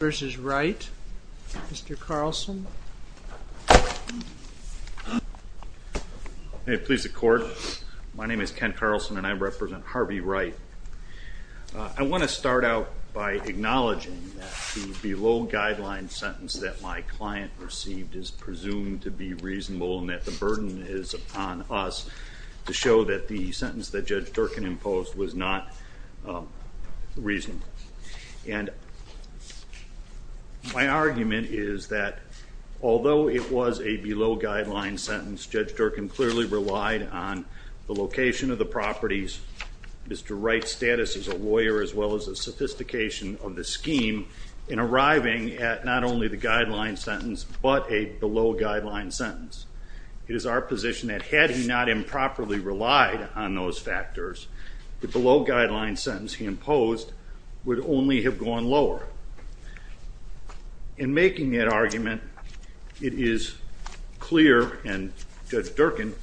versus Wright. Mr. Carlson. Hey, please the court. My name is Ken Carlson and I represent Harvey Wright. I want to start out by acknowledging that the below guideline sentence that my client received is presumed to be reasonable and that the burden is upon us to show that the sentence that Judge Durkin imposed was not reasonable. And my argument is that although it was a below guideline sentence, Judge Durkin clearly relied on the location of the properties, Mr. Wright's status as a lawyer, as well as the sophistication of the scheme in arriving at not only the guideline sentence, but a below guideline sentence. It is our position that had he not improperly relied on those factors, the below guideline sentence he imposed would only have gone lower. In making that argument, it is clear and Judge Durkin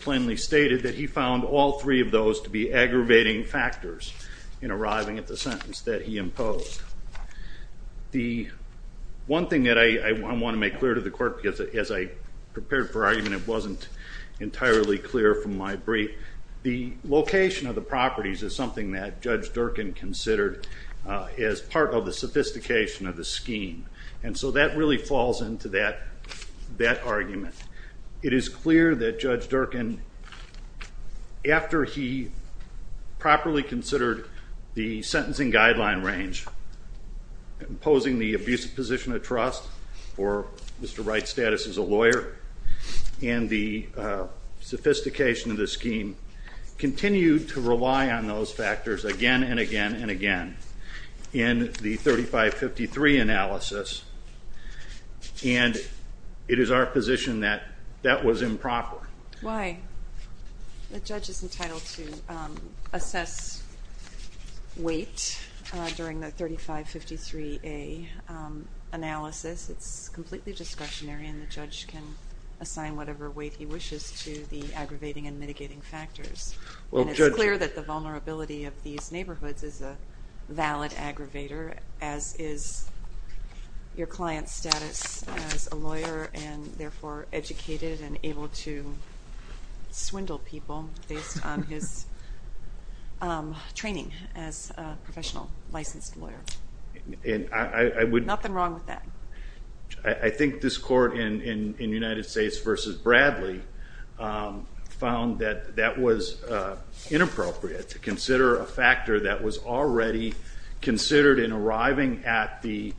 plainly stated that he found all three of those to be aggravating factors in arriving at the sentence that he imposed. The one thing that I want to make clear to the court, because as I prepared for argument, it wasn't entirely clear from my brief. The location of the properties that Judge Durkin considered as part of the sophistication of the scheme. And so that really falls into that argument. It is clear that Judge Durkin, after he properly considered the sentencing guideline range, imposing the abusive position of trust for Mr. Wright's status as a lawyer, and the again and again and again, in the 3553 analysis, and it is our position that that was improper. Why? The judge is entitled to assess weight during the 3553A analysis. It's completely discretionary and the judge can assign whatever weight he wishes to the aggravating and mitigating factors. It's clear that the neighborhoods is a valid aggravator, as is your client's status as a lawyer and therefore educated and able to swindle people based on his training as a professional licensed lawyer. Nothing wrong with that. I think this court in United States versus Bradley found that that was inappropriate to that was already considered in arriving at the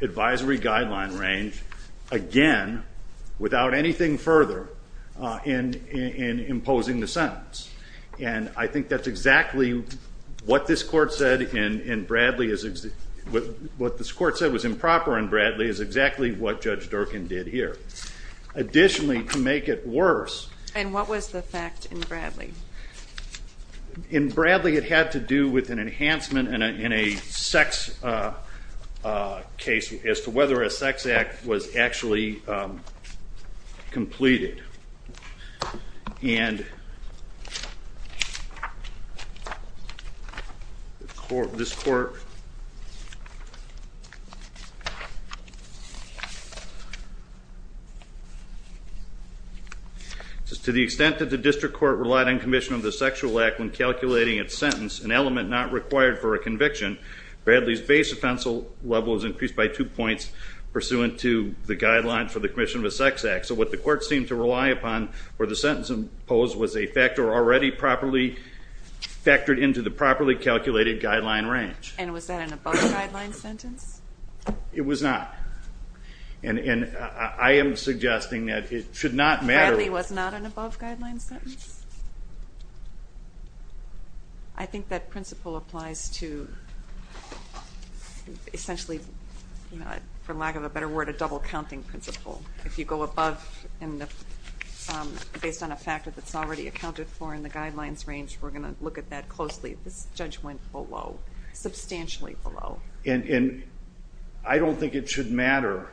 advisory guideline range, again, without anything further in imposing the sentence. And I think that's exactly what this court said in Bradley. What this court said was improper in Bradley is exactly what Judge Durkin did here. Additionally, to make it worse. And what was the fact in Bradley? In Bradley, it had to do with an enhancement in a sex case as to whether a sex act was actually completed. And this court, to the extent that the district court relied on commission of the sexual act when calculating its sentence, an element not required for a conviction, Bradley's base offensive level is increased by two points pursuant to the guidelines for the commission of a sex act. So what the court seemed to rely upon for the sentence imposed was a factor already properly factored into the properly guideline sentence? It was not. And I am suggesting that it should not matter. Bradley was not an above guideline sentence? I think that principle applies to essentially, for lack of a better word, a double counting principle. If you go above and based on a factor that's already accounted for in the guidelines range, we're going to look at that closely. This judge went below, substantially below. And I don't think it should matter,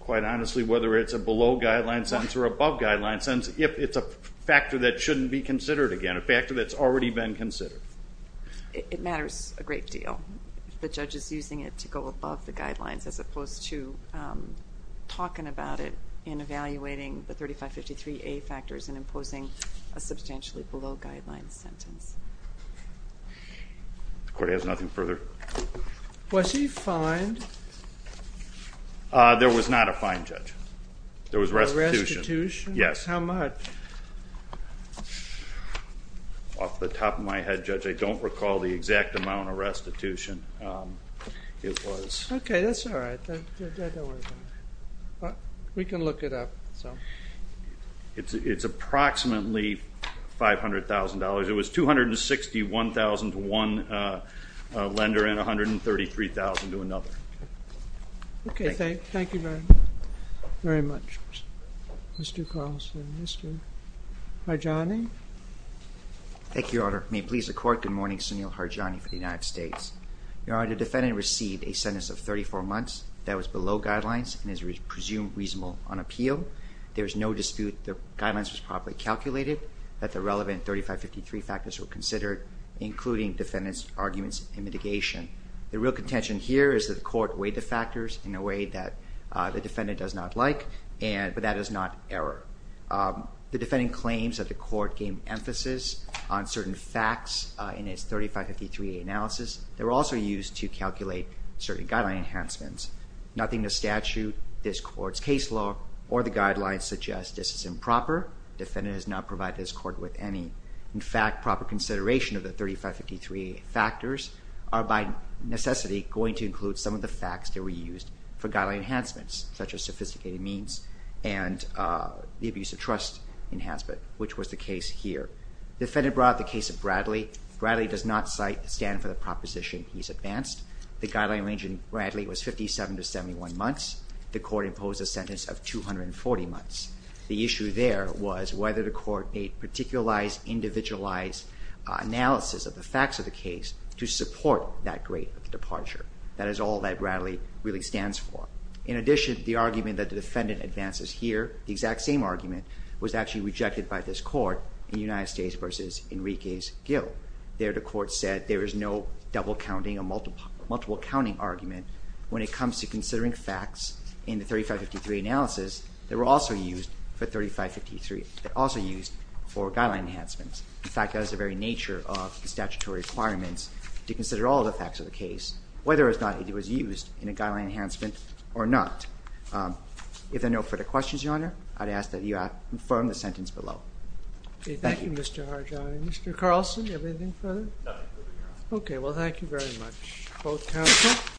quite honestly, whether it's a below guideline sentence or above guideline sentence if it's a factor that shouldn't be considered again, a factor that's already been considered. It matters a great deal. The judge is using it to go above the guidelines as opposed to talking about it in evaluating the substantially below guidelines sentence. The court has nothing further. Was he fined? There was not a fine, Judge. There was restitution. Yes. How much? Off the top of my head, Judge, I don't recall the exact amount of restitution it was. Okay, that's $500,000. It was $261,000 to one lender and $133,000 to another. Okay, thank you very much, Mr. Carlson. Mr. Harjani? Thank you, Your Honor. May it please the court, good morning, Sunil Harjani for the United States. Your Honor, the defendant received a sentence of 34 months that was below guidelines and is presumed reasonable on appeal. There is no dispute the relevant 3553 factors were considered, including defendant's arguments and mitigation. The real contention here is that the court weighed the factors in a way that the defendant does not like, but that is not error. The defendant claims that the court gave emphasis on certain facts in its 3553 analysis. They were also used to calculate certain guideline enhancements. Nothing in the statute, this court's case law, or the guidelines suggest this is improper. Defendant has not provided this court with any. In fact, proper consideration of the 3553 factors are by necessity going to include some of the facts that were used for guideline enhancements, such as sophisticated means and the abuse of trust enhancement, which was the case here. Defendant brought up the case of Bradley. Bradley does not stand for the proposition he's advanced. The guideline range in Bradley was 57 to 71 months. The court imposed a sentence of 240 months. The issue there was whether the court made particularized, individualized analysis of the facts of the case to support that great departure. That is all that Bradley really stands for. In addition, the argument that the defendant advances here, the exact same argument, was actually rejected by this court in United States v. Enriquez-Gil. There the court said there is no double counting or multiple counting argument when it were also used for 3553. They're also used for guideline enhancements. In fact, that is the very nature of the statutory requirements to consider all the facts of the case, whether or not it was used in a guideline enhancement or not. If there are no further questions, Your Honor, I'd ask that you confirm the sentence below. Thank you, Mr. Harjani. Mr. Carlson, do you have anything further? Nothing further, Your Honor. Okay. Well, thank you very much. Both counsel.